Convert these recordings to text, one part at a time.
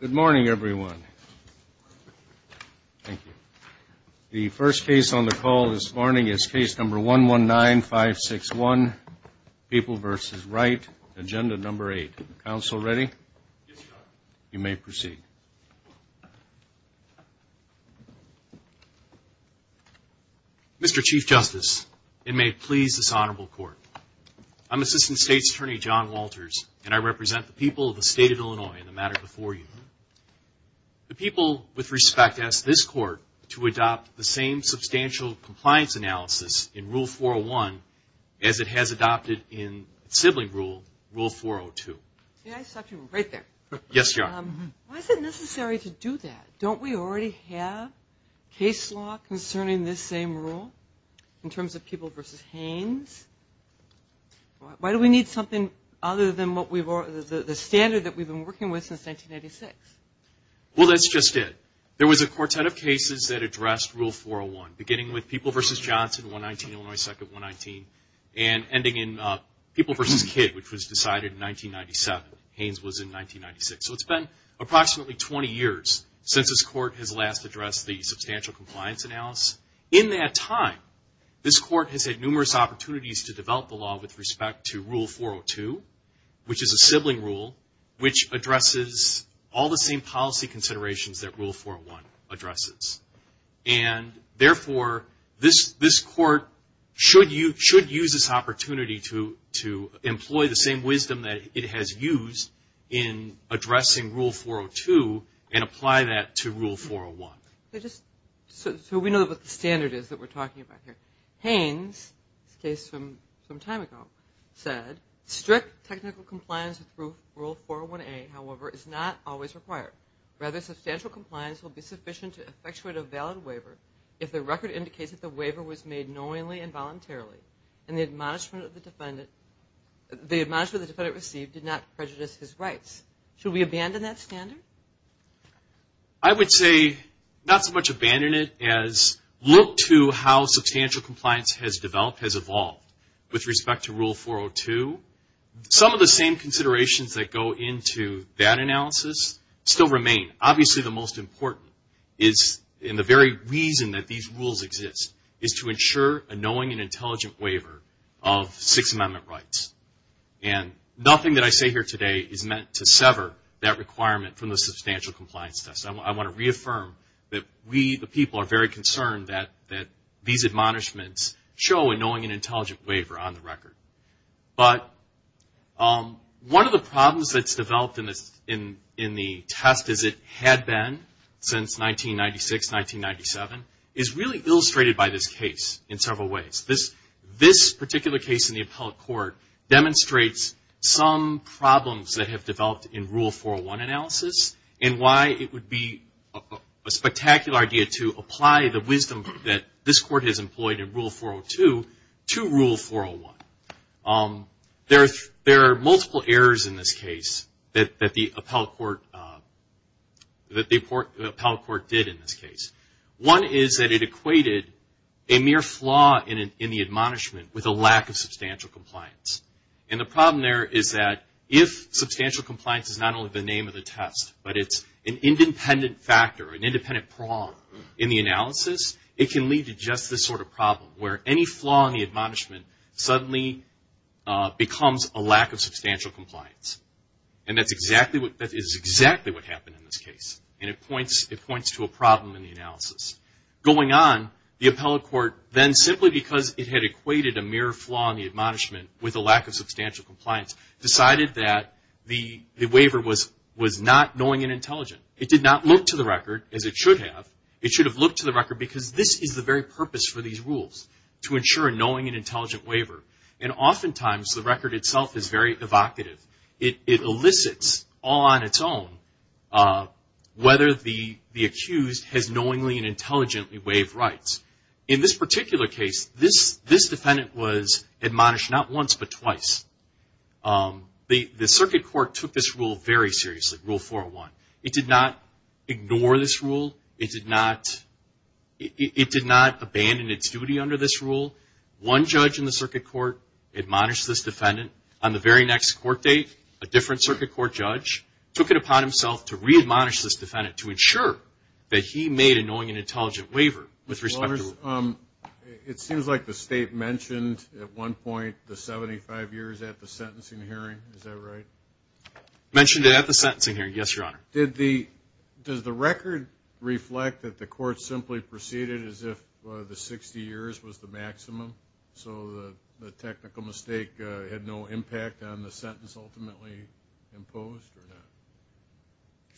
Good morning, everyone. Thank you. The first case on the call this morning is case number 119561, People v. Wright, Agenda No. 8. Counsel ready? Yes, Your Honor. You may proceed. Mr. Chief Justice, it may please this Honorable Court. I'm Assistant State's Attorney John Walters, and I represent the people of the State of Illinois in the matter before you. The people, with respect, ask this Court to adopt the same substantial compliance analysis in Rule 401 as it has adopted in its sibling rule, Rule 402. Why is it necessary to do that? Don't we already have case law concerning this same rule in terms of People v. Haynes? Why do we need something other than the standard that we've been working with since 1986? Well, that's just it. There was a quartet of cases that addressed Rule 401, beginning with People v. Johnson, 119, Illinois 2nd, 119, and ending in People v. Kidd, which was decided in 1997. Haynes was in 1996. So it's been approximately 20 years since this Court has last addressed the substantial compliance analysis. In that time, this Court has had numerous opportunities to develop the law with respect to Rule 402, which is a sibling rule, which addresses all the same policy considerations that Rule 401 addresses. And therefore, this Court should use this opportunity to employ the same wisdom that it has used in addressing Rule 402 and apply that to Rule 401. So we know what the standard is that we're talking about here. Haynes, this case from some time ago, said, Strict technical compliance with Rule 401A, however, is not always required. Rather, substantial compliance will be sufficient to effectuate a valid waiver if the record indicates that the waiver was made knowingly and voluntarily, and the admonishment the defendant received did not prejudice his rights. Should we abandon that standard? I would say not so much abandon it as look to how substantial compliance has developed, has evolved, with respect to Rule 402. Some of the same considerations that go into that analysis still remain. Obviously, the most important is, and the very reason that these rules exist, is to ensure a knowing and intelligent waiver of Sixth Amendment rights. And nothing that I say here today is meant to sever that requirement from the substantial compliance test. I want to reaffirm that we, the people, are very concerned that these admonishments show a knowing and intelligent waiver on the record. But one of the problems that's developed in the test, as it had been since 1996-1997, is really illustrated by this case in several ways. This particular case in the appellate court demonstrates some problems that have developed in Rule 401 analysis, and why it would be a spectacular idea to apply the wisdom that this Court has employed in Rule 402 to Rule 401. There are multiple errors in this case that the appellate court did in this case. One is that it equated a mere flaw in the admonishment with a lack of substantial compliance. And the problem there is that if substantial compliance is not only the name of the test, but it's an independent factor, an independent prong in the analysis, it can lead to just this sort of problem where any flaw in the admonishment suddenly becomes a lack of substantial compliance. And that is exactly what happened in this case. And it points to a problem in the analysis. Going on, the appellate court then, simply because it had equated a mere flaw in the admonishment with a lack of substantial compliance, decided that the waiver was not knowing and intelligent. It did not look to the record as it should have. It should have looked to the record because this is the very purpose for these rules, to ensure a knowing and intelligent waiver. And oftentimes, the record itself is very evocative. It elicits, all on its own, whether the accused has knowingly and intelligently waived rights. In this particular case, this defendant was admonished not once, but twice. The circuit court took this rule very seriously, Rule 401. It did not ignore this rule. It did not abandon its duty under this rule. One judge in the circuit court admonished this defendant. On the very next court date, a different circuit court judge took it upon himself to re-admonish this defendant to ensure that he made a knowing and intelligent waiver. It seems like the state mentioned at one point the 75 years at the sentencing hearing. Is that right? Mentioned it at the sentencing hearing, yes, Your Honor. Does the record reflect that the court simply proceeded as if the 60 years was the maximum? So the technical mistake had no impact on the sentence ultimately imposed?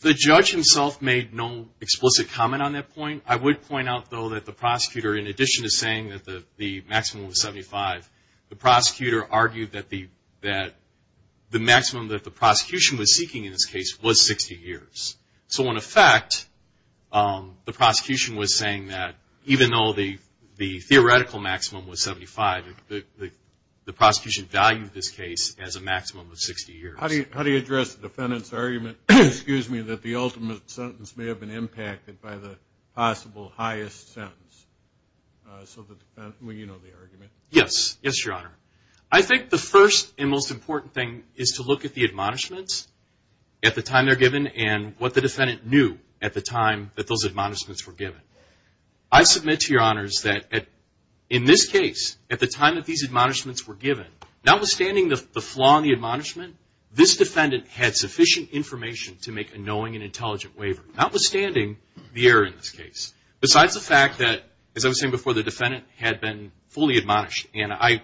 The judge himself made no explicit comment on that point. I would point out, though, that the prosecutor, in addition to saying that the maximum was 75, the prosecutor argued that the maximum that the prosecution was seeking in this case was 60 years. So in effect, the prosecution was saying that even though the theoretical maximum was 75, the prosecution valued this case as a maximum of 60 years. How do you address the defendant's argument that the ultimate sentence may have been impacted by the possible highest sentence? Well, you know the argument. Yes, Your Honor. I think the first and most important thing is to look at the admonishments at the time they're given and what the defendant knew at the time that those admonishments were given. I submit to Your Honors that in this case, at the time that these admonishments were given, notwithstanding the flaw in the admonishment, this defendant had sufficient information to make a knowing and intelligent waiver, notwithstanding the error in this case, besides the fact that, as I was saying before, the defendant had been fully admonished. And I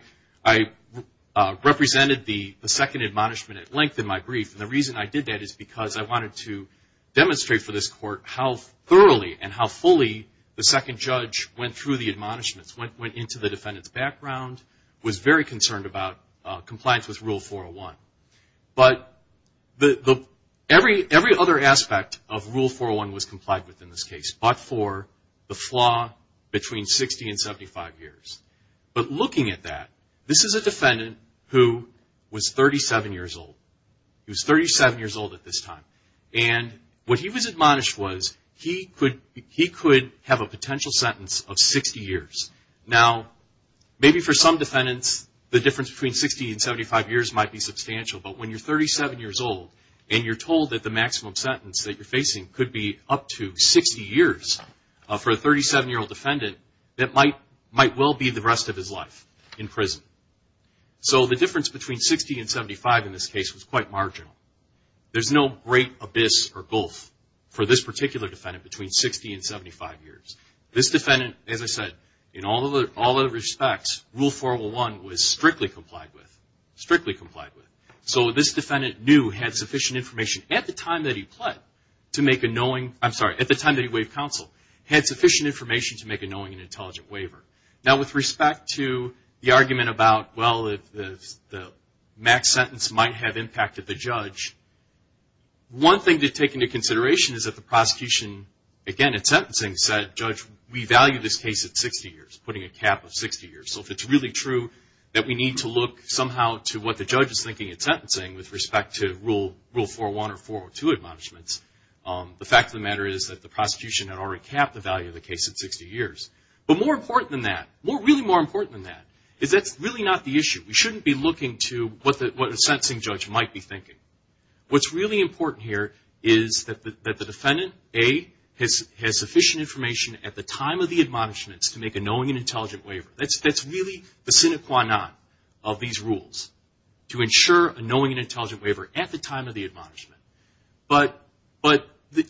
represented the second admonishment at length in my brief. And the reason I did that is because I wanted to demonstrate for this Court how thoroughly and how fully the second judge went through the admonishments, went into the defendant's background, was very concerned about compliance with Rule 401. But every other aspect of Rule 401 was complied with in this case, but for the flaw between 60 and 75 years. But looking at that, this is a defendant who was 37 years old. He was 37 years old at this time. And what he was admonished was he could have a potential sentence of 60 years. Now, maybe for some defendants, the difference between 60 and 75 years might be substantial, but when you're 37 years old and you're told that the maximum sentence that you're facing could be up to 60 years, for a 37-year-old defendant, that might well be the rest of his life in prison. So the difference between 60 and 75 in this case was quite marginal. There's no great abyss or gulf for this particular defendant between 60 and 75 years. This defendant, as I said, in all other respects, Rule 401 was strictly complied with. Strictly complied with. So this defendant knew, had sufficient information at the time that he pled, to make a knowing, I'm sorry, at the time that he waived counsel, had sufficient information to make a knowing and intelligent waiver. Now, with respect to the argument about, well, if the max sentence might have impacted the judge, one thing to take into consideration is that the prosecution, again, at sentencing, said, Judge, we value this case at 60 years, putting a cap of 60 years. So if it's really true that we need to look somehow to what the judge is thinking at sentencing with respect to Rule 401 or 402 admonishments, the fact of the matter is that the prosecution had already capped the value of the case at 60 years. But more important than that, really more important than that, is that's really not the issue. We shouldn't be looking to what a sentencing judge might be thinking. What's really important here is that the defendant, A, has sufficient information at the time of the admonishments to make a knowing and intelligent waiver. That's really the sine qua non of these rules, to ensure a knowing and intelligent waiver at the time of the admonishment. But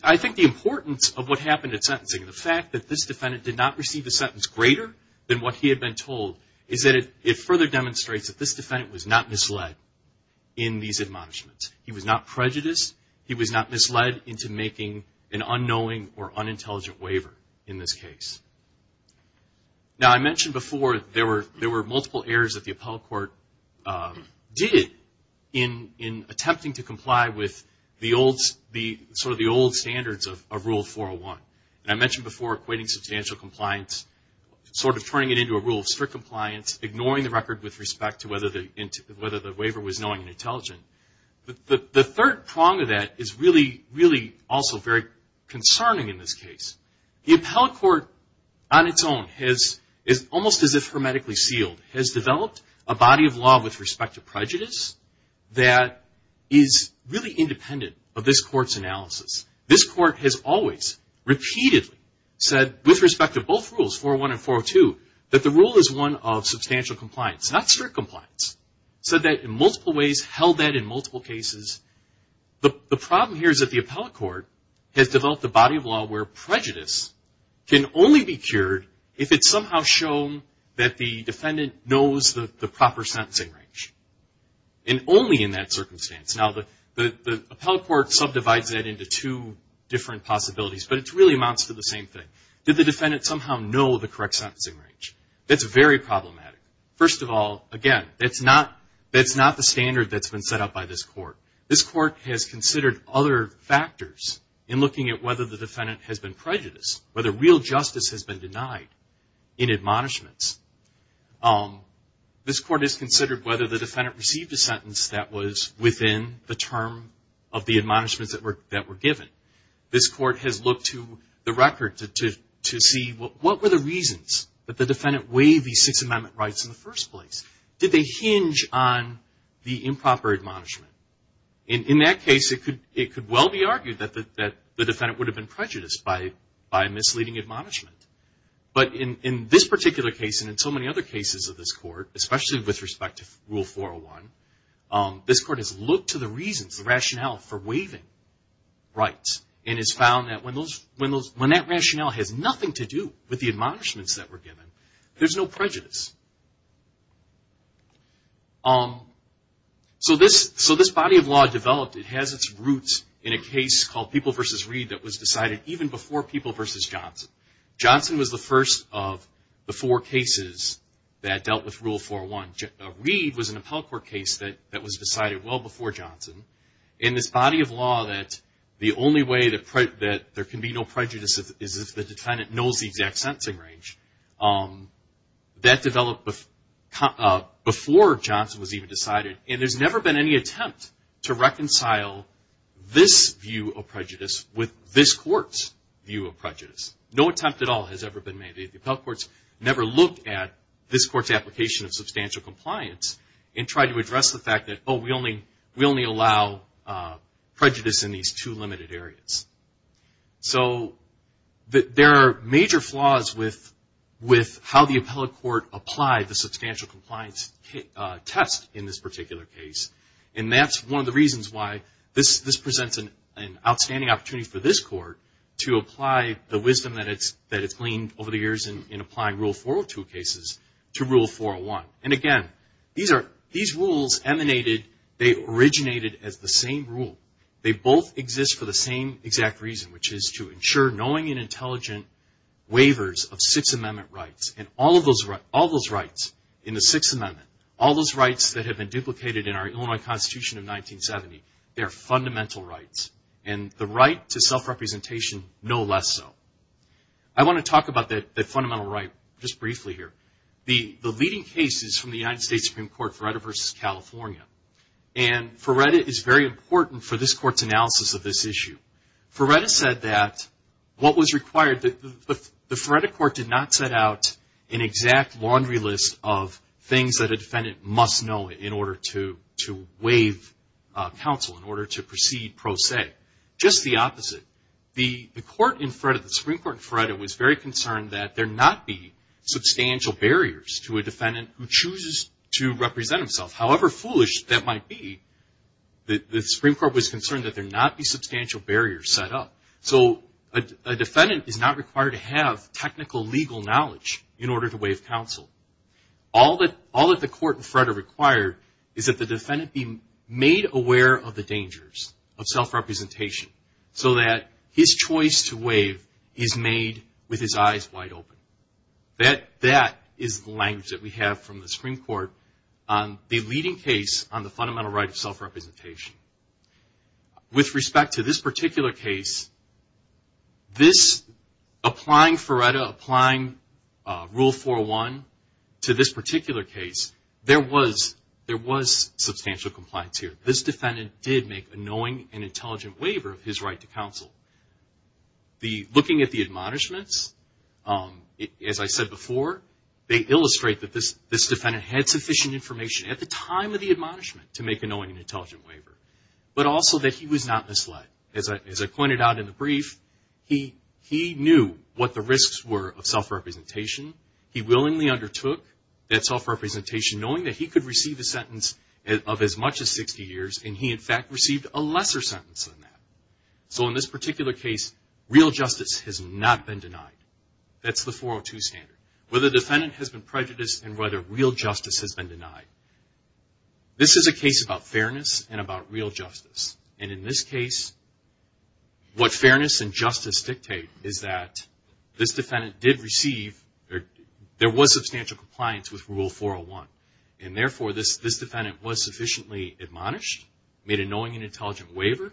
I think the importance of what happened at sentencing, the fact that this defendant did not receive a sentence greater than what he had been told, is that it further demonstrates that this defendant was not misled in these admonishments. He was not prejudiced. He was not misled into making an unknowing or unintelligent waiver in this case. Now, I mentioned before there were multiple errors that the appellate court did in attempting to comply with the old standards of Rule 401. And I mentioned before equating substantial compliance, sort of turning it into a rule of strict compliance, ignoring the record with respect to whether the waiver was knowing and intelligent. The third prong of that is really, really also very concerning in this case. The appellate court, on its own, is almost as if hermetically sealed, has developed a body of law with respect to prejudice that is really independent of this court's analysis. This court has always, repeatedly, said with respect to both rules, 401 and 402, that the rule is one of substantial compliance, not strict compliance. Said that in multiple ways, held that in multiple cases. The problem here is that the appellate court has developed a body of law where prejudice can only be cured if it's somehow shown that the defendant knows the proper sentencing range. And only in that circumstance. Now, the appellate court subdivides that into two different possibilities, but it really amounts to the same thing. Did the defendant somehow know the correct sentencing range? That's very problematic. First of all, again, that's not the standard that's been set up by this court. This court has considered other factors in looking at whether the defendant has been prejudiced, whether real justice has been denied in admonishments. This court has considered whether the defendant received a sentence that was within the term of the admonishments that were given. This court has looked to the record to see what were the reasons that the defendant waived these Sixth Amendment rights in the first place? Did they hinge on the improper admonishment? In that case, it could well be argued that the defendant would have been prejudiced by misleading admonishment. But in this particular case, and in so many other cases of this court, especially with respect to Rule 401, this court has looked to the reasons, the rationale for waiving rights, and has found that when that rationale has nothing to do with the admonishments that were given, there's no prejudice. So this body of law developed. It has its roots in a case called People v. Reed that was decided even before People v. Johnson. Johnson was the first of the four cases that dealt with Rule 401. Reed was an appellate court case that was decided well before Johnson. And this body of law that the only way that there can be no prejudice is if the defendant knows the exact sentencing range, and there's never been any attempt to reconcile this view of prejudice with this court's view of prejudice. No attempt at all has ever been made. The appellate courts never looked at this court's application of substantial compliance and tried to address the fact that, oh, we only allow prejudice in these two limited areas. So there are major flaws with how the appellate court applied the substantial compliance test in this particular case. And that's one of the reasons why this presents an outstanding opportunity for this court to apply the wisdom that it's gleaned over the years in applying Rule 402 cases to Rule 401. And again, these rules emanated, they originated as the same rule. They both exist for the same exact reason, which is to ensure knowing and intelligent waivers of Sixth Amendment rights. And all those rights in the Sixth Amendment, all those rights that have been duplicated in our Illinois Constitution of 1970, they are fundamental rights. And the right to self-representation, no less so. I want to talk about that fundamental right just briefly here. The leading case is from the United States Supreme Court, Feretta v. California. And Feretta is very important for this court's analysis of this issue. Feretta said that what was required, the Feretta court did not set out an exact laundry list of things that a defendant must know in order to waive counsel, in order to proceed pro se. Just the opposite. The Supreme Court in Feretta was very concerned that there not be substantial barriers to a defendant who chooses to waive counsel, which that might be. The Supreme Court was concerned that there not be substantial barriers set up. So a defendant is not required to have technical legal knowledge in order to waive counsel. All that the court in Feretta required is that the defendant be made aware of the dangers of self-representation so that his choice to waive is made with his eyes wide open. That is the language that we have from the Supreme Court on the leading case on the fundamental right of self-representation. With respect to this particular case, applying Feretta, applying Rule 401 to this particular case, there was substantial compliance here. This defendant did make a knowing and intelligent waiver of his right to counsel. Looking at the admonishments, as I said before, they illustrate that this defendant had sufficient information at the time of the admonishment to make a knowing and intelligent waiver, but also that he was not misled. As I pointed out in the brief, he knew what the risks were of self-representation. He willingly undertook that self-representation knowing that he could receive a sentence of as much as 60 years, and he in fact received a lesser sentence than that. So in this particular case, real justice has not been denied. That's the 402 standard. Whether the defendant has been prejudiced and whether real justice has been denied. This is a case about fairness and about real justice. And in this case, what fairness and justice dictate is that this defendant did receive, there was substantial compliance with Rule 401, and therefore this defendant was sufficiently admonished, made a knowing and intelligent waiver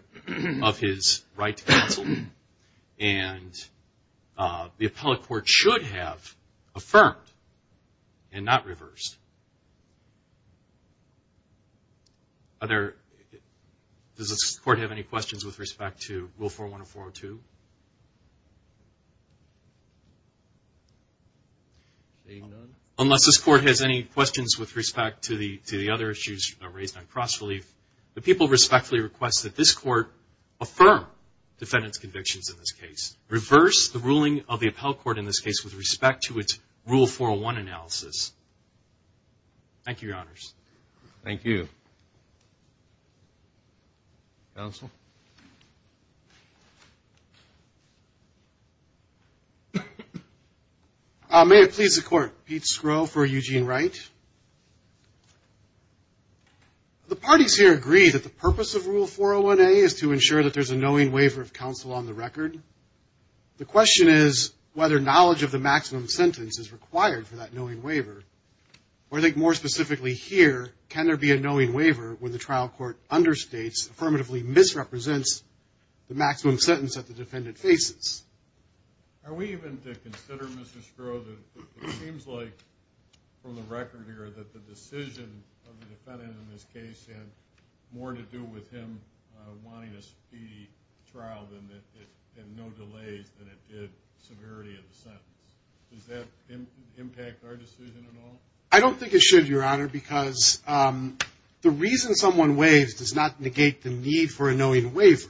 of his right to counsel, and the appellate court should have affirmed and not reversed. Does this court have any questions with respect to Rule 401 or 402? Unless this court has any questions with respect to the other issues raised on cross-relief, the people respectfully request that this court affirm defendant's convictions in this case, reverse the ruling of the appellate court in this case with respect to its Rule 401 analysis. Thank you, Your Honors. Thank you. Counsel. May it please the Court. Pete Skro for Eugene Wright. The parties here agree that the purpose of Rule 401A is to ensure that there's a knowing waiver of counsel on the record. The question is whether knowledge of the maximum sentence is required for that knowing waiver, or I think more specifically here, can there be a knowing waiver when the trial court understates, affirmatively misrepresents the maximum sentence that the defendant faces? Are we even to consider, Mr. Skro, that it seems like from the record here that the decision of the defendant in this case had more to do with him wanting a speedy trial and no delays than it did severity of the sentence? Does that impact our decision at all? I don't think it should, Your Honor, because the reason someone waives does not negate the need for a knowing waiver.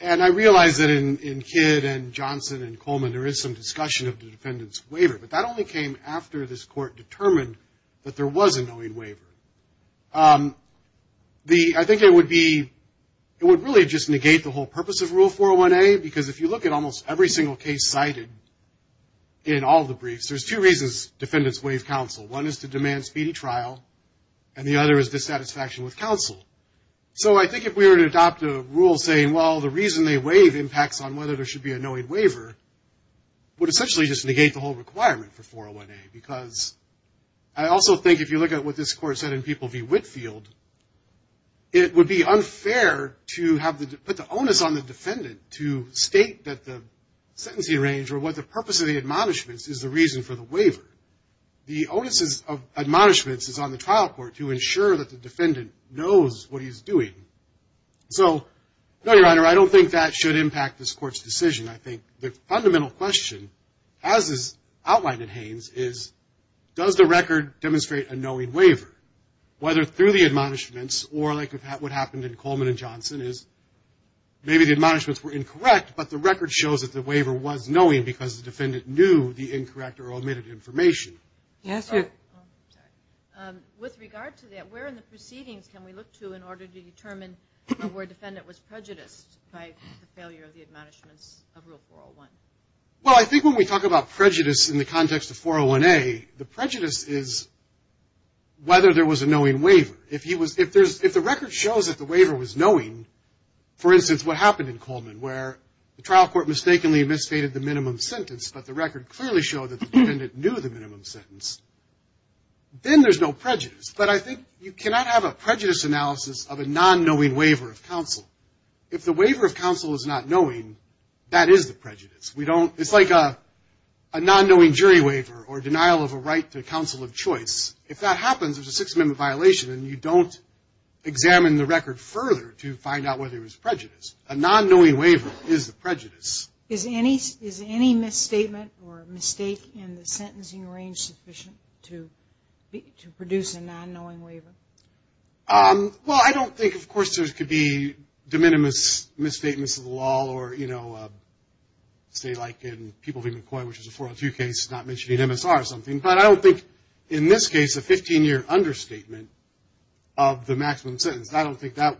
And I realize that in Kidd and Johnson and Coleman, there is some discussion of the defendant's waiver, but that only came after this court determined that there was a knowing waiver. I think it would really just negate the whole purpose of Rule 401A, because if you look at almost every single case cited in all the briefs, there's two reasons defendants waive counsel. One is to demand speedy trial, and the other is dissatisfaction with counsel. So I think if we were to adopt a rule saying, well, the reason they waive impacts on whether there should be a knowing waiver, would essentially just negate the whole requirement for 401A, because I also think if you look at what this court said in People v. Whitfield, it would be unfair to put the onus on the defendant to state that the sentencing range or what the purpose of the admonishments is the reason for the waiver. The onus of admonishments is on the trial court to ensure that the defendant knows what he's doing. So, no, Your Honor, I don't think that should impact this court's decision. I think the fundamental question, as is outlined in Haynes, is does the record demonstrate a knowing waiver? Whether through the admonishments, or like what happened in Coleman and Johnson, is maybe the admonishments were incorrect, but the record shows that the waiver was knowing because the defendant knew the incorrect or omitted information. With regard to that, where in the proceedings can we look to in order to determine where a defendant was prejudiced by the failure of the admonishments of Rule 401? Well, I think when we talk about prejudice in the context of 401A, the prejudice is whether there was a knowing waiver. If the record shows that the waiver was knowing, for instance, what happened in Coleman, where the trial court mistakenly misstated the minimum sentence, but the record clearly showed that the defendant knew the minimum sentence, then there's no prejudice. But I think you cannot have a prejudice analysis of a non-knowing waiver of counsel. If the waiver of counsel is not knowing, that is the prejudice. It's like a non-knowing jury waiver or denial of a right to counsel of choice. If that happens, there's a Sixth Amendment violation, and you don't examine the record further to find out whether it was prejudice. A non-knowing waiver is the prejudice. Is any misstatement or mistake in the sentencing range sufficient to produce a non-knowing waiver? Well, I don't think, of course, there could be de minimis misstatements of the law or, you know, say like in People v. McCoy, which is a 402 case, not mentioning MSR or something. But I don't think in this case a 15-year understatement of the maximum sentence, I don't think that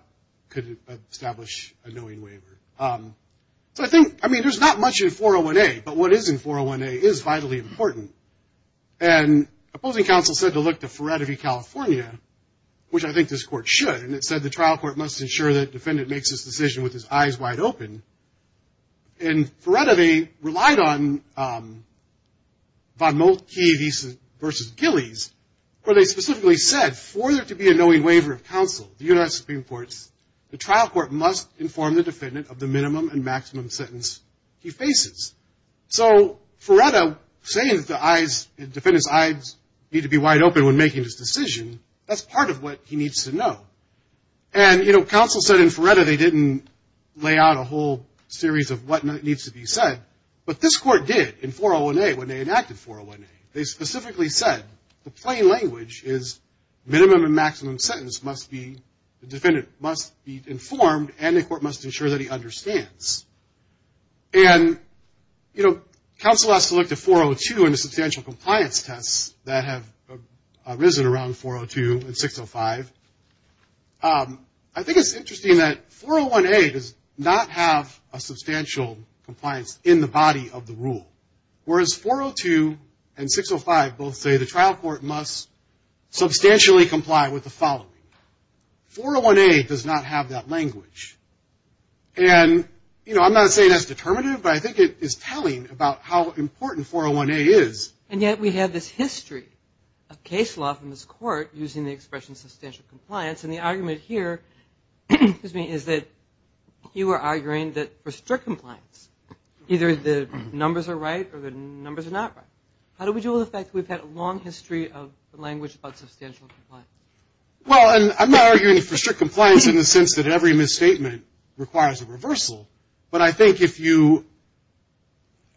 could establish a knowing waiver. So I think, I mean, there's not much in 401A, but what is in 401A is vitally important. And opposing counsel said to look to Ferretti v. California, which I think this court should, and it said the trial court must ensure that the defendant makes this decision with his eyes wide open. And Ferretti relied on Von Moltke v. Gillies, where they specifically said, for there to be a knowing waiver of counsel, the U.S. Supreme Court, the trial court must inform the defendant of the minimum and maximum sentence he faces. So Ferretti saying that the defendant's eyes need to be wide open when making this decision, that's part of what he needs to know. And, you know, counsel said in Ferretti they didn't lay out a whole series of what needs to be said, but this court did in 401A when they enacted 401A. They specifically said the plain language is minimum and maximum sentence must be, the defendant must be informed and the court must ensure that he understands. And, you know, counsel has to look to 402 and the substantial compliance tests that have arisen around 402 and 605. I think it's interesting that 401A does not have a substantial compliance in the body of the rule, whereas 402 and 605 both say the trial court must substantially comply with the following. 401A does not have that language. And, you know, I'm not saying that's determinative, but I think it is telling about how important 401A is. And yet we have this history of case law from this court using the expression substantial compliance, and the argument here is that you are arguing that for strict compliance either the numbers are right or the numbers are not right. How do we deal with the fact that we've had a long history of language about substantial compliance? Well, and I'm not arguing for strict compliance in the sense that every misstatement requires a reversal. But I think if you,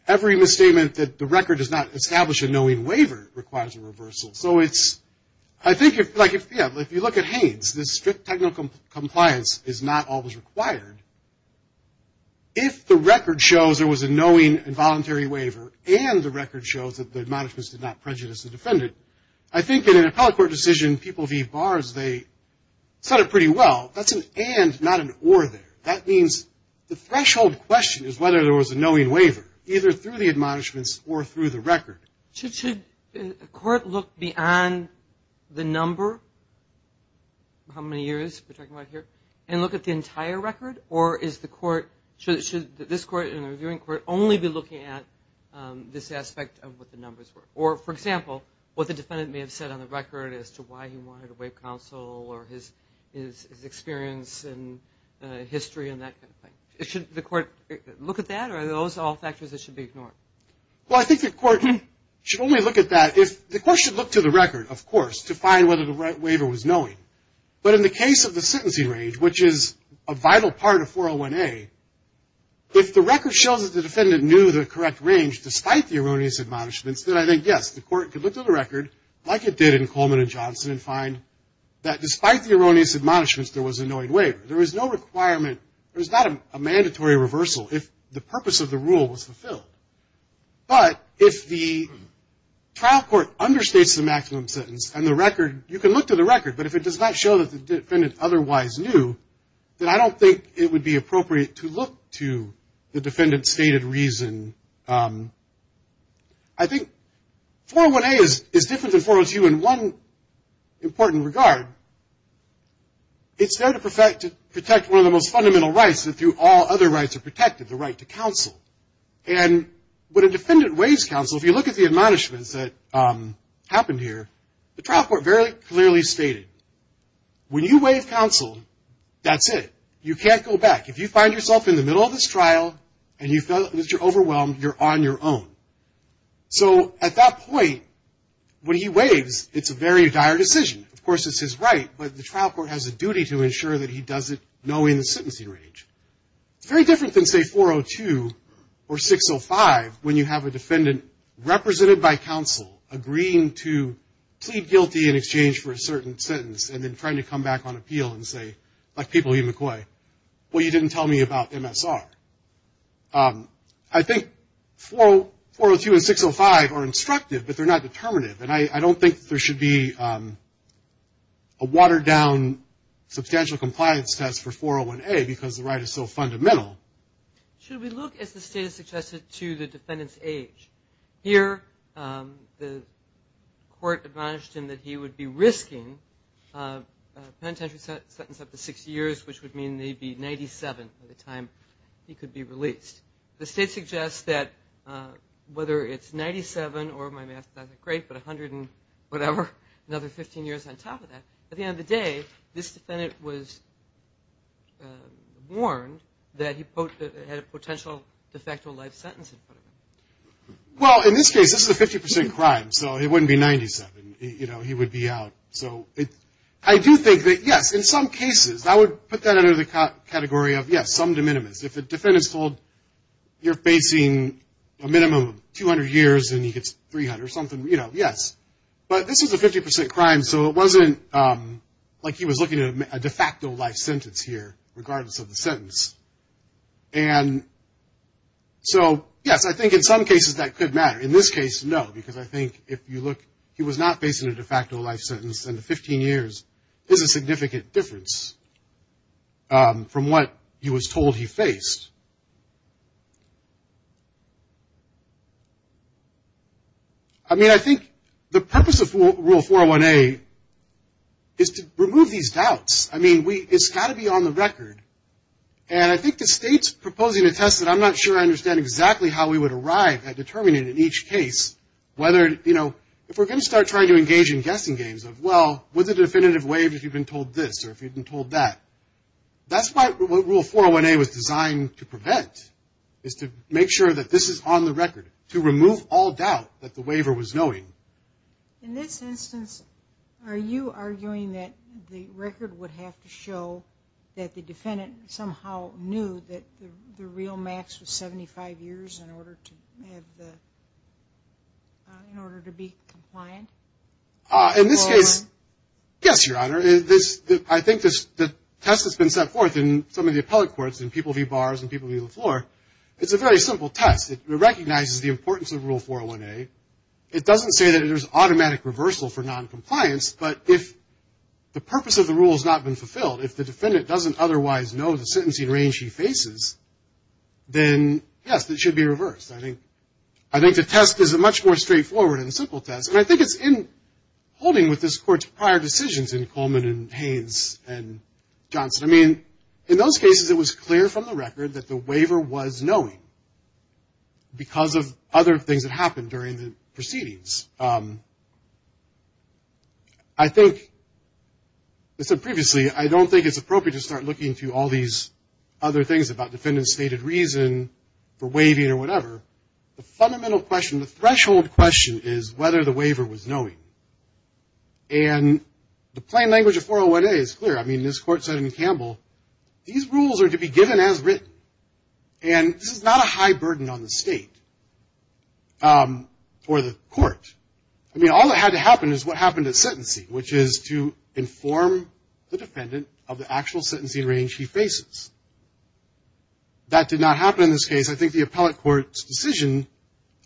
every misstatement that the record does not establish a knowing waiver requires a reversal. So it's, I think if, like, yeah, if you look at Haines, this strict technical compliance is not always required. If the record shows there was a knowing and voluntary waiver, and the record shows that the admonishments did not prejudice the defendant, I think in an appellate court decision people leave bars, they said it pretty well. That's an and, not an or there. That means the threshold question is whether there was a knowing waiver, either through the admonishments or through the record. Should a court look beyond the number, how many years we're talking about here, and look at the entire record, or is the court, should this court and the reviewing court only be looking at this aspect of what the numbers were? Or, for example, what the defendant may have said on the record as to why he wanted a waiver counsel or his experience and history and that kind of thing. Should the court look at that, or are those all factors that should be ignored? Well, I think the court should only look at that if, the court should look to the record, of course, to find whether the waiver was knowing. But in the case of the sentencing range, which is a vital part of 401A, if the record shows that the defendant knew the correct range, despite the erroneous admonishments, then I think, yes, the court could look to the record, like it did in Coleman and Johnson, and find that despite the erroneous admonishments, there was a knowing waiver. There was no requirement, there was not a mandatory reversal if the purpose of the rule was fulfilled. But if the trial court understates the maximum sentence and the record, you can look to the record, but if it does not show that the defendant otherwise knew, then I don't think it would be appropriate to look to the defendant's stated reason. I think 401A is different than 402 in one important regard. It's there to protect one of the most fundamental rights that through all other rights are protected, the right to counsel. And when a defendant waives counsel, if you look at the admonishments that happened here, the trial court very clearly stated, when you waive counsel, that's it. You can't go back. If you find yourself in the middle of this trial, and you feel that you're overwhelmed, you're on your own. So at that point, when he waives, it's a very dire decision. Of course, it's his right, but the trial court has a duty to ensure that he does it knowing the sentencing range. It's very different than, say, 402 or 605, when you have a defendant represented by counsel agreeing to plead guilty in exchange for a certain sentence and then trying to come back on appeal and say, like people in McCoy, well, you didn't tell me about MSR. I think 402 and 605 are instructive, but they're not determinative, and I don't think there should be a watered-down substantial compliance test for 401A, because the right is so fundamental. Should we look, as the State has suggested, to the defendant's age? Here, the court admonished him that he would be risking a penitentiary sentence up to 60 years, which would mean that he'd be 97 by the time he could be released. The State suggests that whether it's 97 or, my math is not that great, but 100 and whatever, another 15 years on top of that, at the end of the day, this defendant was warned that he had a potential de facto life sentence in front of him. Well, in this case, this is a 50% crime, so it wouldn't be 97. You know, he would be out. So I do think that, yes, in some cases, I would put that under the category of, yes, some de minimis. If the defendant is told you're facing a minimum of 200 years and he gets 300 or something, you know, yes. But this is a 50% crime, so it wasn't like he was looking at a de facto life sentence here, regardless of the sentence. And so, yes, I think in some cases that could matter. In this case, no, because I think if you look, he was not facing a de facto life sentence, and 15 years is a significant difference from what he was told he faced. I mean, I think the purpose of Rule 401A is to remove these doubts. I mean, it's got to be on the record. And I think the state's proposing a test that I'm not sure I understand exactly how we would arrive at determining in each case whether, you know, if we're going to start trying to engage in guessing games of, well, was it a definitive waive if you've been told this or if you've been told that? That's what Rule 401A was designed to prevent, is to make sure that this is on the record, to remove all doubt that the waiver was noting. In this instance, are you arguing that the record would have to show that the defendant somehow knew that the real max was 75 years in order to be compliant? In this case, yes, Your Honor. I think the test has been set forth in some of the appellate courts and people view bars and people view the floor. It's a very simple test. It recognizes the importance of Rule 401A. It doesn't say that there's automatic reversal for noncompliance, but if the purpose of the rule has not been fulfilled, if the defendant doesn't otherwise know the sentencing range he faces, then, yes, it should be reversed. I think the test is a much more straightforward and simple test. And I think it's in holding with this Court's prior decisions in Coleman and Haynes and Johnson. I mean, in those cases, it was clear from the record that the waiver was knowing because of other things that happened during the proceedings. I think, as I said previously, I don't think it's appropriate to start looking through all these other things about defendant's stated reason for waiving or whatever. The fundamental question, the threshold question is whether the waiver was knowing. And the plain language of 401A is clear. I mean, this Court said in Campbell, these rules are to be given as written. And this is not a high burden on the State or the Court. I mean, all that had to happen is what happened at sentencing, which is to inform the defendant of the actual sentencing range he faces. That did not happen in this case. I think the appellate Court's decision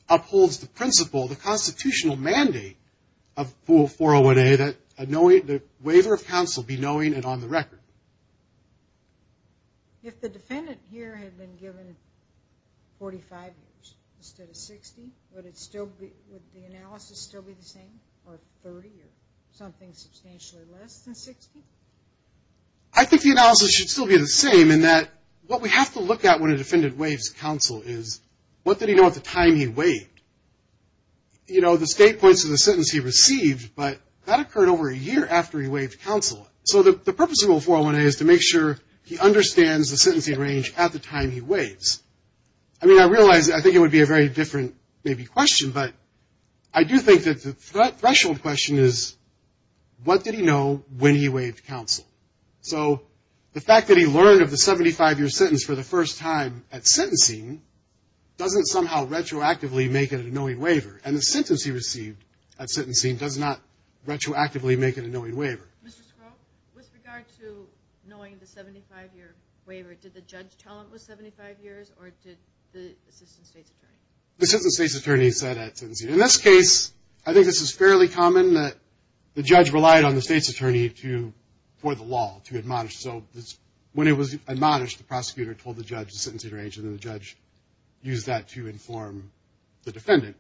upholds the principle, the constitutional mandate of 401A that the waiver of counsel be knowing and on the record. If the defendant here had been given 45 years instead of 60, would the analysis still be the same, or 30, or something substantially less than 60? I think the analysis should still be the same in that what we have to look at when a defendant waives counsel is, what did he know at the time he waived? You know, the State points to the sentence he received, but that occurred over a year after he waived counsel. So the purpose of 401A is to make sure he understands the sentencing range at the time he waives. I mean, I realize, I think it would be a very different maybe question, but I do think that the threshold question is, what did he know when he waived counsel? So the fact that he learned of the 75-year sentence for the first time at sentencing doesn't somehow retroactively make it a knowing waiver, and the sentence he received at sentencing does not retroactively make it a knowing waiver. Mr. Scroggs, with regard to knowing the 75-year waiver, did the judge tell him it was 75 years, or did the assistant State's attorney? The assistant State's attorney said at sentencing. In this case, I think this is fairly common that the judge relied on the State's attorney for the law to admonish. So when it was admonished, the prosecutor told the judge the sentencing range, and then the judge used that to inform the defendant,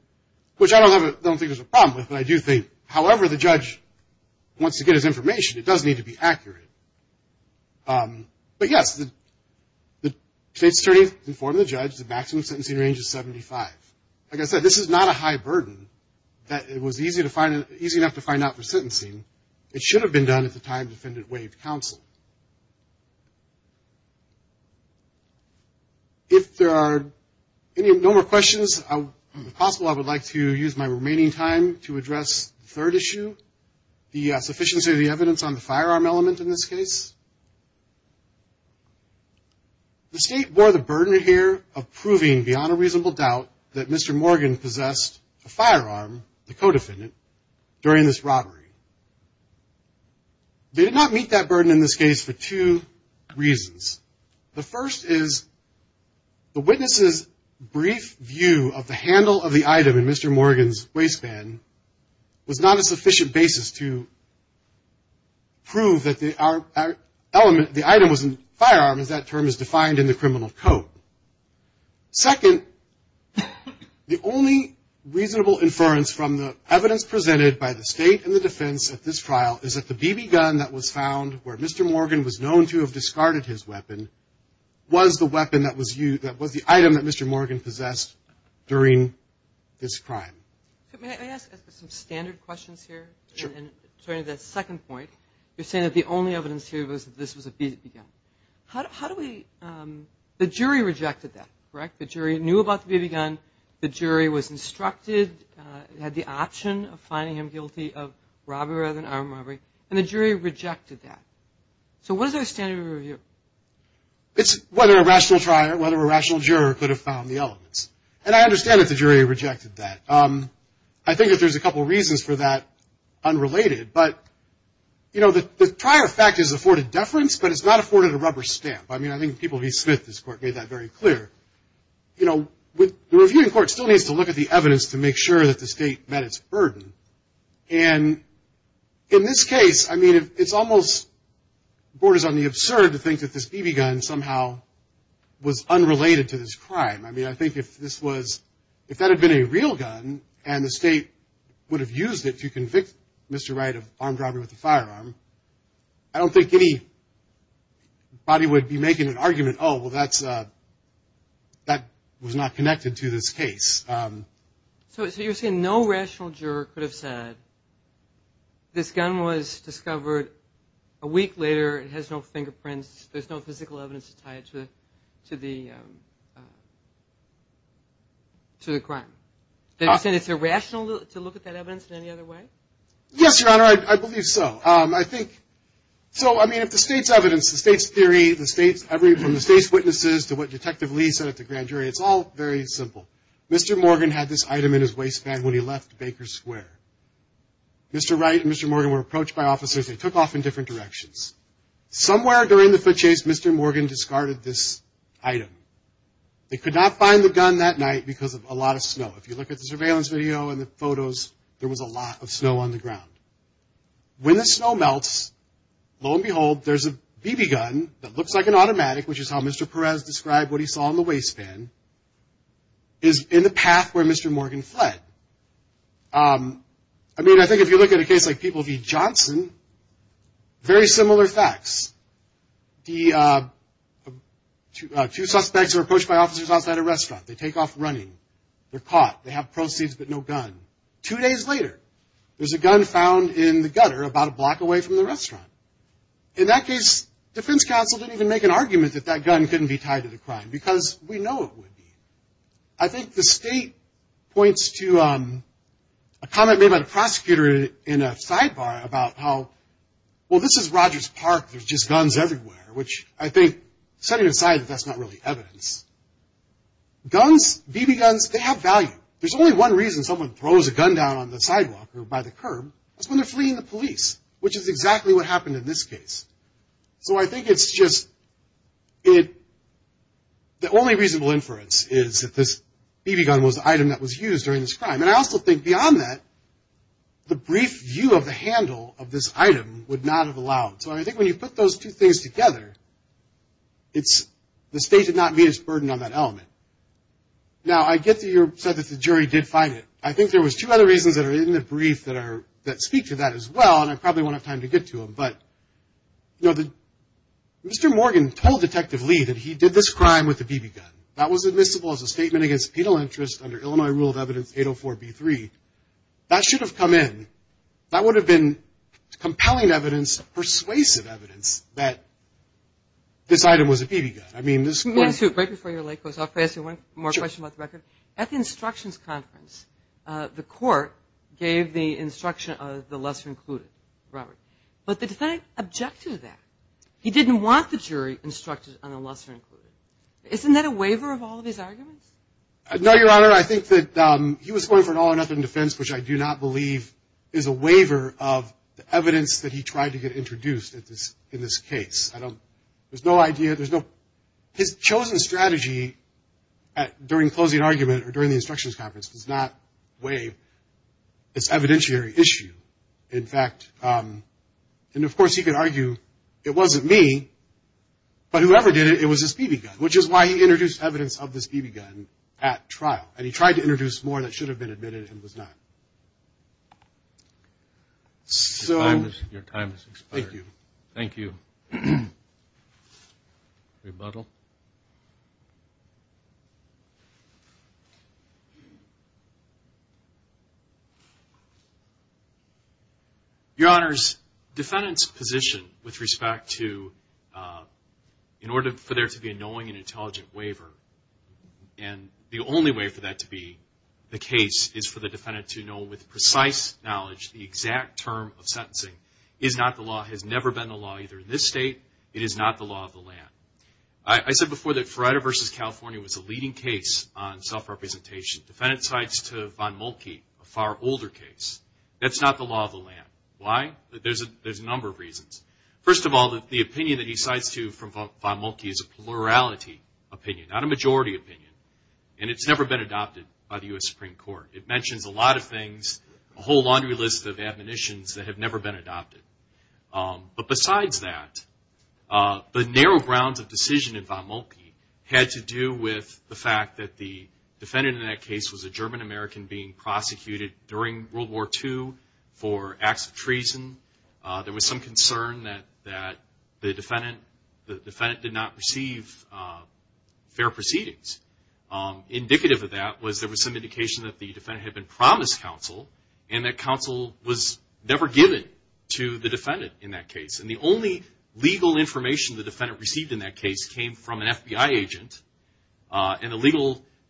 which I don't think there's a problem with, but I do think, however the judge wants to get his information, it does need to be accurate. But, yes, the State's attorney informed the judge the maximum sentencing range is 75. Like I said, this is not a high burden that was easy enough to find out for sentencing. It should have been done at the time the defendant waived counsel. If there are no more questions, if possible, I would like to use my remaining time to address the third issue, the sufficiency of the evidence on the firearm element in this case. The State bore the burden here of proving beyond a reasonable doubt that Mr. Morgan possessed a firearm, the co-defendant, during this robbery. They did not meet that burden in this case for two reasons. The first is the witness's brief view of the handle of the item in Mr. Morgan's waistband was not a sufficient basis to prove that the item was a firearm, as that term is defined in the criminal code. Second, the only reasonable inference from the evidence presented by the State and the defense at this trial is that the BB gun that was found where Mr. Morgan was known to have discarded his weapon was the weapon that was used, that was the item that Mr. Morgan possessed during this crime. May I ask some standard questions here? Sure. And to the second point, you're saying that the only evidence here was that this was a BB gun. How do we – the jury rejected that, correct? The jury knew about the BB gun. The jury was instructed, had the option of finding him guilty of robbery rather than armed robbery. And the jury rejected that. So what is our standard of review? It's whether a rational juror could have found the elements. And I understand that the jury rejected that. I think that there's a couple reasons for that unrelated. But, you know, the prior fact is afforded deference, but it's not afforded a rubber stamp. I mean, I think the people at E. Smith, this court, made that very clear. You know, the reviewing court still needs to look at the evidence to make sure that the State met its burden. And in this case, I mean, it's almost – it borders on the absurd to think that this BB gun somehow was unrelated to this crime. I mean, I think if this was – if that had been a real gun and the State would have used it to convict Mr. Wright of armed robbery with a firearm, I don't think anybody would be making an argument, oh, well, that's – that was not connected to this case. So you're saying no rational juror could have said this gun was discovered a week later. It has no fingerprints. There's no physical evidence to tie it to the crime. You're saying it's irrational to look at that evidence in any other way? Yes, Your Honor, I believe so. I think – so, I mean, if the State's evidence, the State's theory, the State's – from the State's witnesses to what Detective Lee said at the grand jury, it's all very simple. Mr. Morgan had this item in his waistband when he left Baker Square. Mr. Wright and Mr. Morgan were approached by officers. They took off in different directions. Somewhere during the foot chase, Mr. Morgan discarded this item. They could not find the gun that night because of a lot of snow. If you look at the surveillance video and the photos, there was a lot of snow on the ground. When the snow melts, lo and behold, there's a BB gun that looks like an automatic, which is how Mr. Perez described what he saw in the waistband, is in the path where Mr. Morgan fled. I mean, I think if you look at a case like People v. Johnson, very similar facts. The two suspects are approached by officers outside a restaurant. They take off running. They're caught. They have proceeds but no gun. Two days later, there's a gun found in the gutter about a block away from the restaurant. In that case, defense counsel didn't even make an argument that that gun couldn't be tied to the crime because we know it would be. I think the state points to a comment made by the prosecutor in a sidebar about how, well, this is Rogers Park, there's just guns everywhere, which I think setting aside that that's not really evidence. Guns, BB guns, they have value. There's only one reason someone throws a gun down on the sidewalk or by the curb. That's when they're fleeing the police, which is exactly what happened in this case. So I think it's just the only reasonable inference is that this BB gun was the item that was used during this crime. And I also think beyond that, the brief view of the handle of this item would not have allowed. So I think when you put those two things together, the state did not meet its burden on that element. Now, I get that you said that the jury did find it. I think there was two other reasons that are in the brief that speak to that as well, and I probably won't have time to get to them. But, you know, Mr. Morgan told Detective Lee that he did this crime with a BB gun. That was admissible as a statement against penal interest under Illinois Rule of Evidence 804B3. That should have come in. That would have been compelling evidence, persuasive evidence, that this item was a BB gun. I mean, this court. Let me ask you, right before your leg goes off, may I ask you one more question about the record? At the instructions conference, the court gave the instruction of the lesser included, Robert. But the defendant objected to that. He didn't want the jury instructed on the lesser included. Isn't that a waiver of all of his arguments? No, Your Honor. I think that he was going for an all-or-nothing defense, which I do not believe is a waiver of the evidence that he tried to get introduced in this case. I don't – there's no idea. There's no – his chosen strategy during closing argument or during the instructions conference does not waive its evidentiary issue. In fact – and, of course, he could argue it wasn't me, but whoever did it, it was this BB gun, which is why he introduced evidence of this BB gun at trial. And he tried to introduce more that should have been admitted and was not. Your time has expired. Thank you. Thank you. Rebuttal. Your Honors, defendant's position with respect to – in order for there to be a knowing and intelligent waiver, and the only way for that to be the case is for the defendant to know with precise knowledge the exact term of sentencing is not the law, has never been the law either in this state. It is not the law of the land. I said before that Ferrara v. California was a leading case on self-representation. Defendant cites to Von Mulkey a far older case. That's not the law of the land. Why? There's a number of reasons. First of all, the opinion that he cites to Von Mulkey is a plurality opinion, not a majority opinion, and it's never been adopted by the U.S. Supreme Court. It mentions a lot of things, a whole laundry list of admonitions that have never been adopted. But besides that, the narrow grounds of decision in Von Mulkey had to do with the fact that the defendant in that case was a German-American being prosecuted during World War II for acts of treason. There was some concern that the defendant did not receive fair proceedings. Indicative of that was there was some indication that the defendant had been promised counsel and that counsel was never given to the defendant in that case. And the only legal information the defendant received in that case came from an FBI agent, and the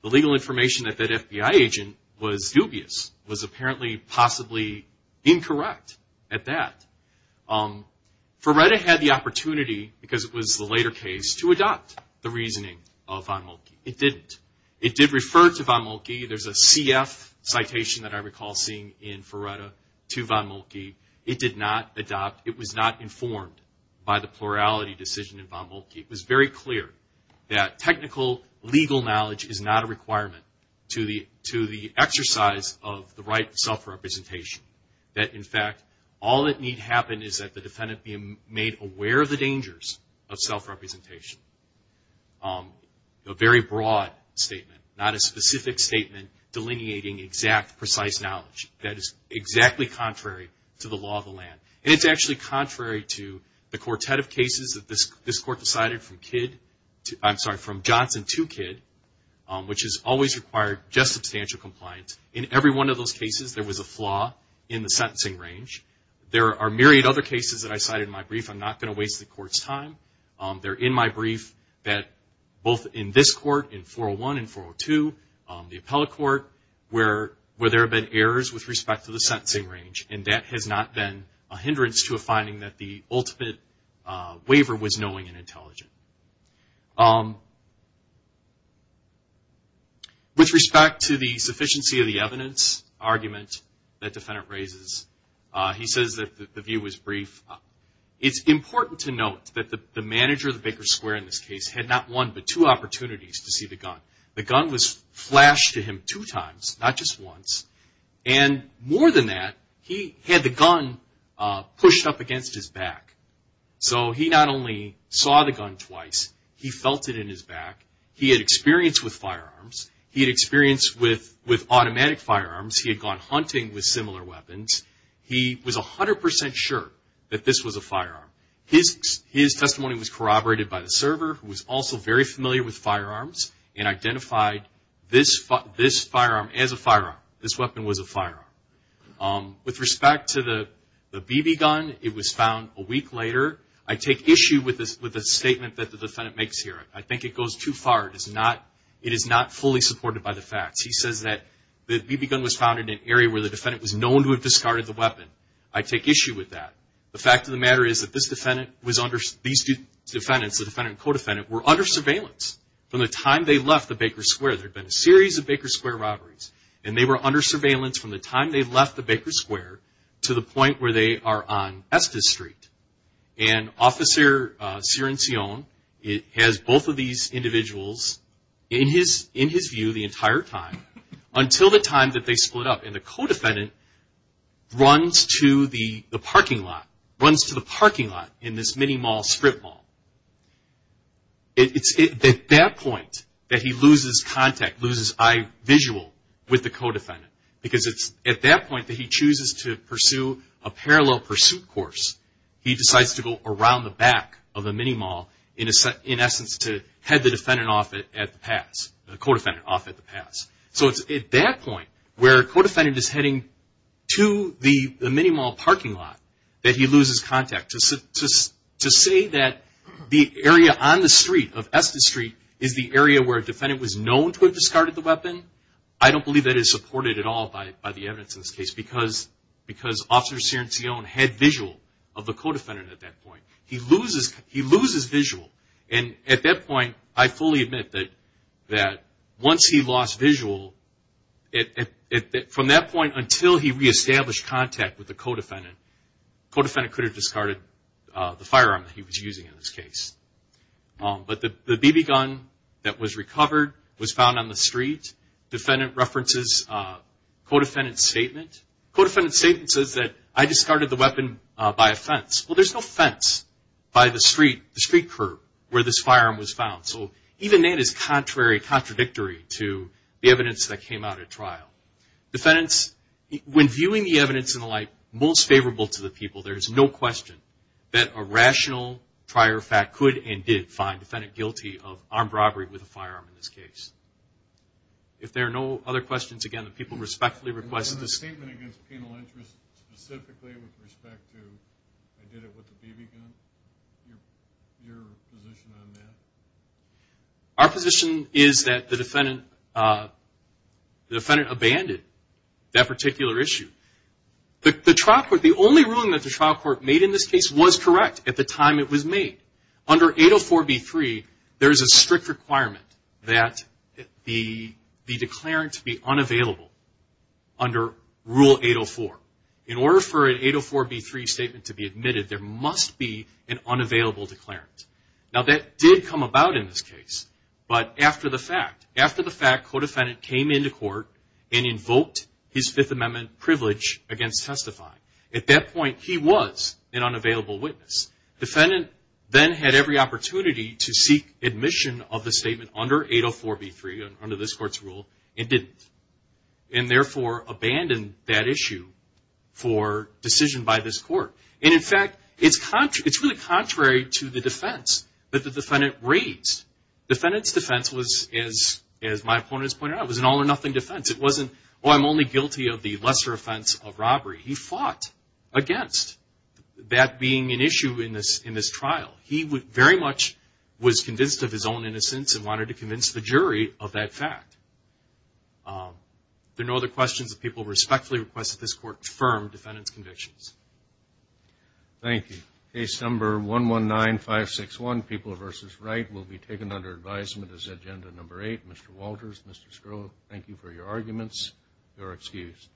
legal information at that FBI agent was dubious, was apparently possibly incorrect at that. Ferretta had the opportunity, because it was the later case, to adopt the reasoning of Von Mulkey. It didn't. It did refer to Von Mulkey. There's a CF citation that I recall seeing in Ferretta to Von Mulkey. It did not adopt. It was not informed by the plurality decision in Von Mulkey. It was very clear that technical legal knowledge is not a requirement to the exercise of the right of self-representation, that, in fact, all that need happen is that the defendant be made aware of the dangers of self-representation. A very broad statement, not a specific statement delineating exact, precise knowledge. That is exactly contrary to the law of the land. And it's actually contrary to the quartet of cases that this Court decided from Johnson to Kidd, which has always required just substantial compliance. In every one of those cases, there was a flaw in the sentencing range. There are myriad other cases that I cited in my brief. I'm not going to waste the Court's time. They're in my brief that both in this Court, in 401 and 402, the appellate court, where there have been errors with respect to the sentencing range. And that has not been a hindrance to a finding that the ultimate waiver was knowing and intelligent. With respect to the sufficiency of the evidence argument that defendant raises, he says that the view was brief. It's important to note that the manager of the Baker Square in this case had not one but two opportunities to see the gun. The gun was flashed to him two times, not just once. And more than that, he had the gun pushed up against his back. So he not only saw the gun twice, he felt it in his back. He had experience with firearms. He had experience with automatic firearms. He had gone hunting with similar weapons. He was 100 percent sure that this was a firearm. His testimony was corroborated by the server, who was also very familiar with firearms With respect to the BB gun, it was found a week later. I take issue with the statement that the defendant makes here. I think it goes too far. It is not fully supported by the facts. He says that the BB gun was found in an area where the defendant was known to have discarded the weapon. I take issue with that. The fact of the matter is that these defendants, the defendant and co-defendant, were under surveillance from the time they left the Baker Square. There had been a series of Baker Square robberies, and they were under surveillance from the time they left the Baker Square to the point where they are on Estes Street. And Officer Cirincione has both of these individuals in his view the entire time until the time that they split up. And the co-defendant runs to the parking lot, runs to the parking lot in this mini-mall, strip mall. It's at that point that he loses contact, loses eye visual with the co-defendant. Because it's at that point that he chooses to pursue a parallel pursuit course. He decides to go around the back of the mini-mall, in essence, to head the defendant off at the pass, the co-defendant off at the pass. So it's at that point where a co-defendant is heading to the mini-mall parking lot that he loses contact. To say that the area on the street, of Estes Street, is the area where a defendant was known to have discarded the weapon, I don't believe that is supported at all by the evidence in this case because Officer Cirincione had visual of the co-defendant at that point. He loses visual. And at that point, I fully admit that once he lost visual, from that point until he re-established contact with the co-defendant, the co-defendant could have discarded the firearm that he was using in this case. But the BB gun that was recovered was found on the street. The defendant references the co-defendant's statement. The co-defendant's statement says that I discarded the weapon by a fence. Well, there's no fence by the street curb where this firearm was found. So even that is contrary, contradictory to the evidence that came out at trial. Defendants, when viewing the evidence and the like, most favorable to the people, there's no question that a rational prior fact could and did find the defendant guilty of armed robbery with a firearm in this case. If there are no other questions, again, the people respectfully request this. Do you have a statement against penal interest specifically with respect to I did it with the BB gun? Your position on that? Our position is that the defendant abandoned that particular issue. The trial court, the only ruling that the trial court made in this case was correct at the time it was made. Under 804B3, there is a strict requirement that the declarant be unavailable under Rule 804. In order for an 804B3 statement to be admitted, there must be an unavailable declarant. Now, that did come about in this case, but after the fact, co-defendant came into court and invoked his Fifth Amendment privilege against testifying. At that point, he was an unavailable witness. Defendant then had every opportunity to seek admission of the statement under 804B3, under this court's rule, and didn't. And, therefore, abandoned that issue for decision by this court. And, in fact, it's really contrary to the defense that the defendant raised. Defendant's defense was, as my opponents pointed out, was an all or nothing defense. It wasn't, oh, I'm only guilty of the lesser offense of robbery. He fought against that being an issue in this trial. He very much was convinced of his own innocence and wanted to convince the jury of that fact. There are no other questions. The people respectfully request that this court confirm defendant's convictions. Thank you. Case Number 119561, People v. Wright, will be taken under advisement as Agenda Number 8. Mr. Walters, Mr. Stroh, thank you for your arguments. You are excused.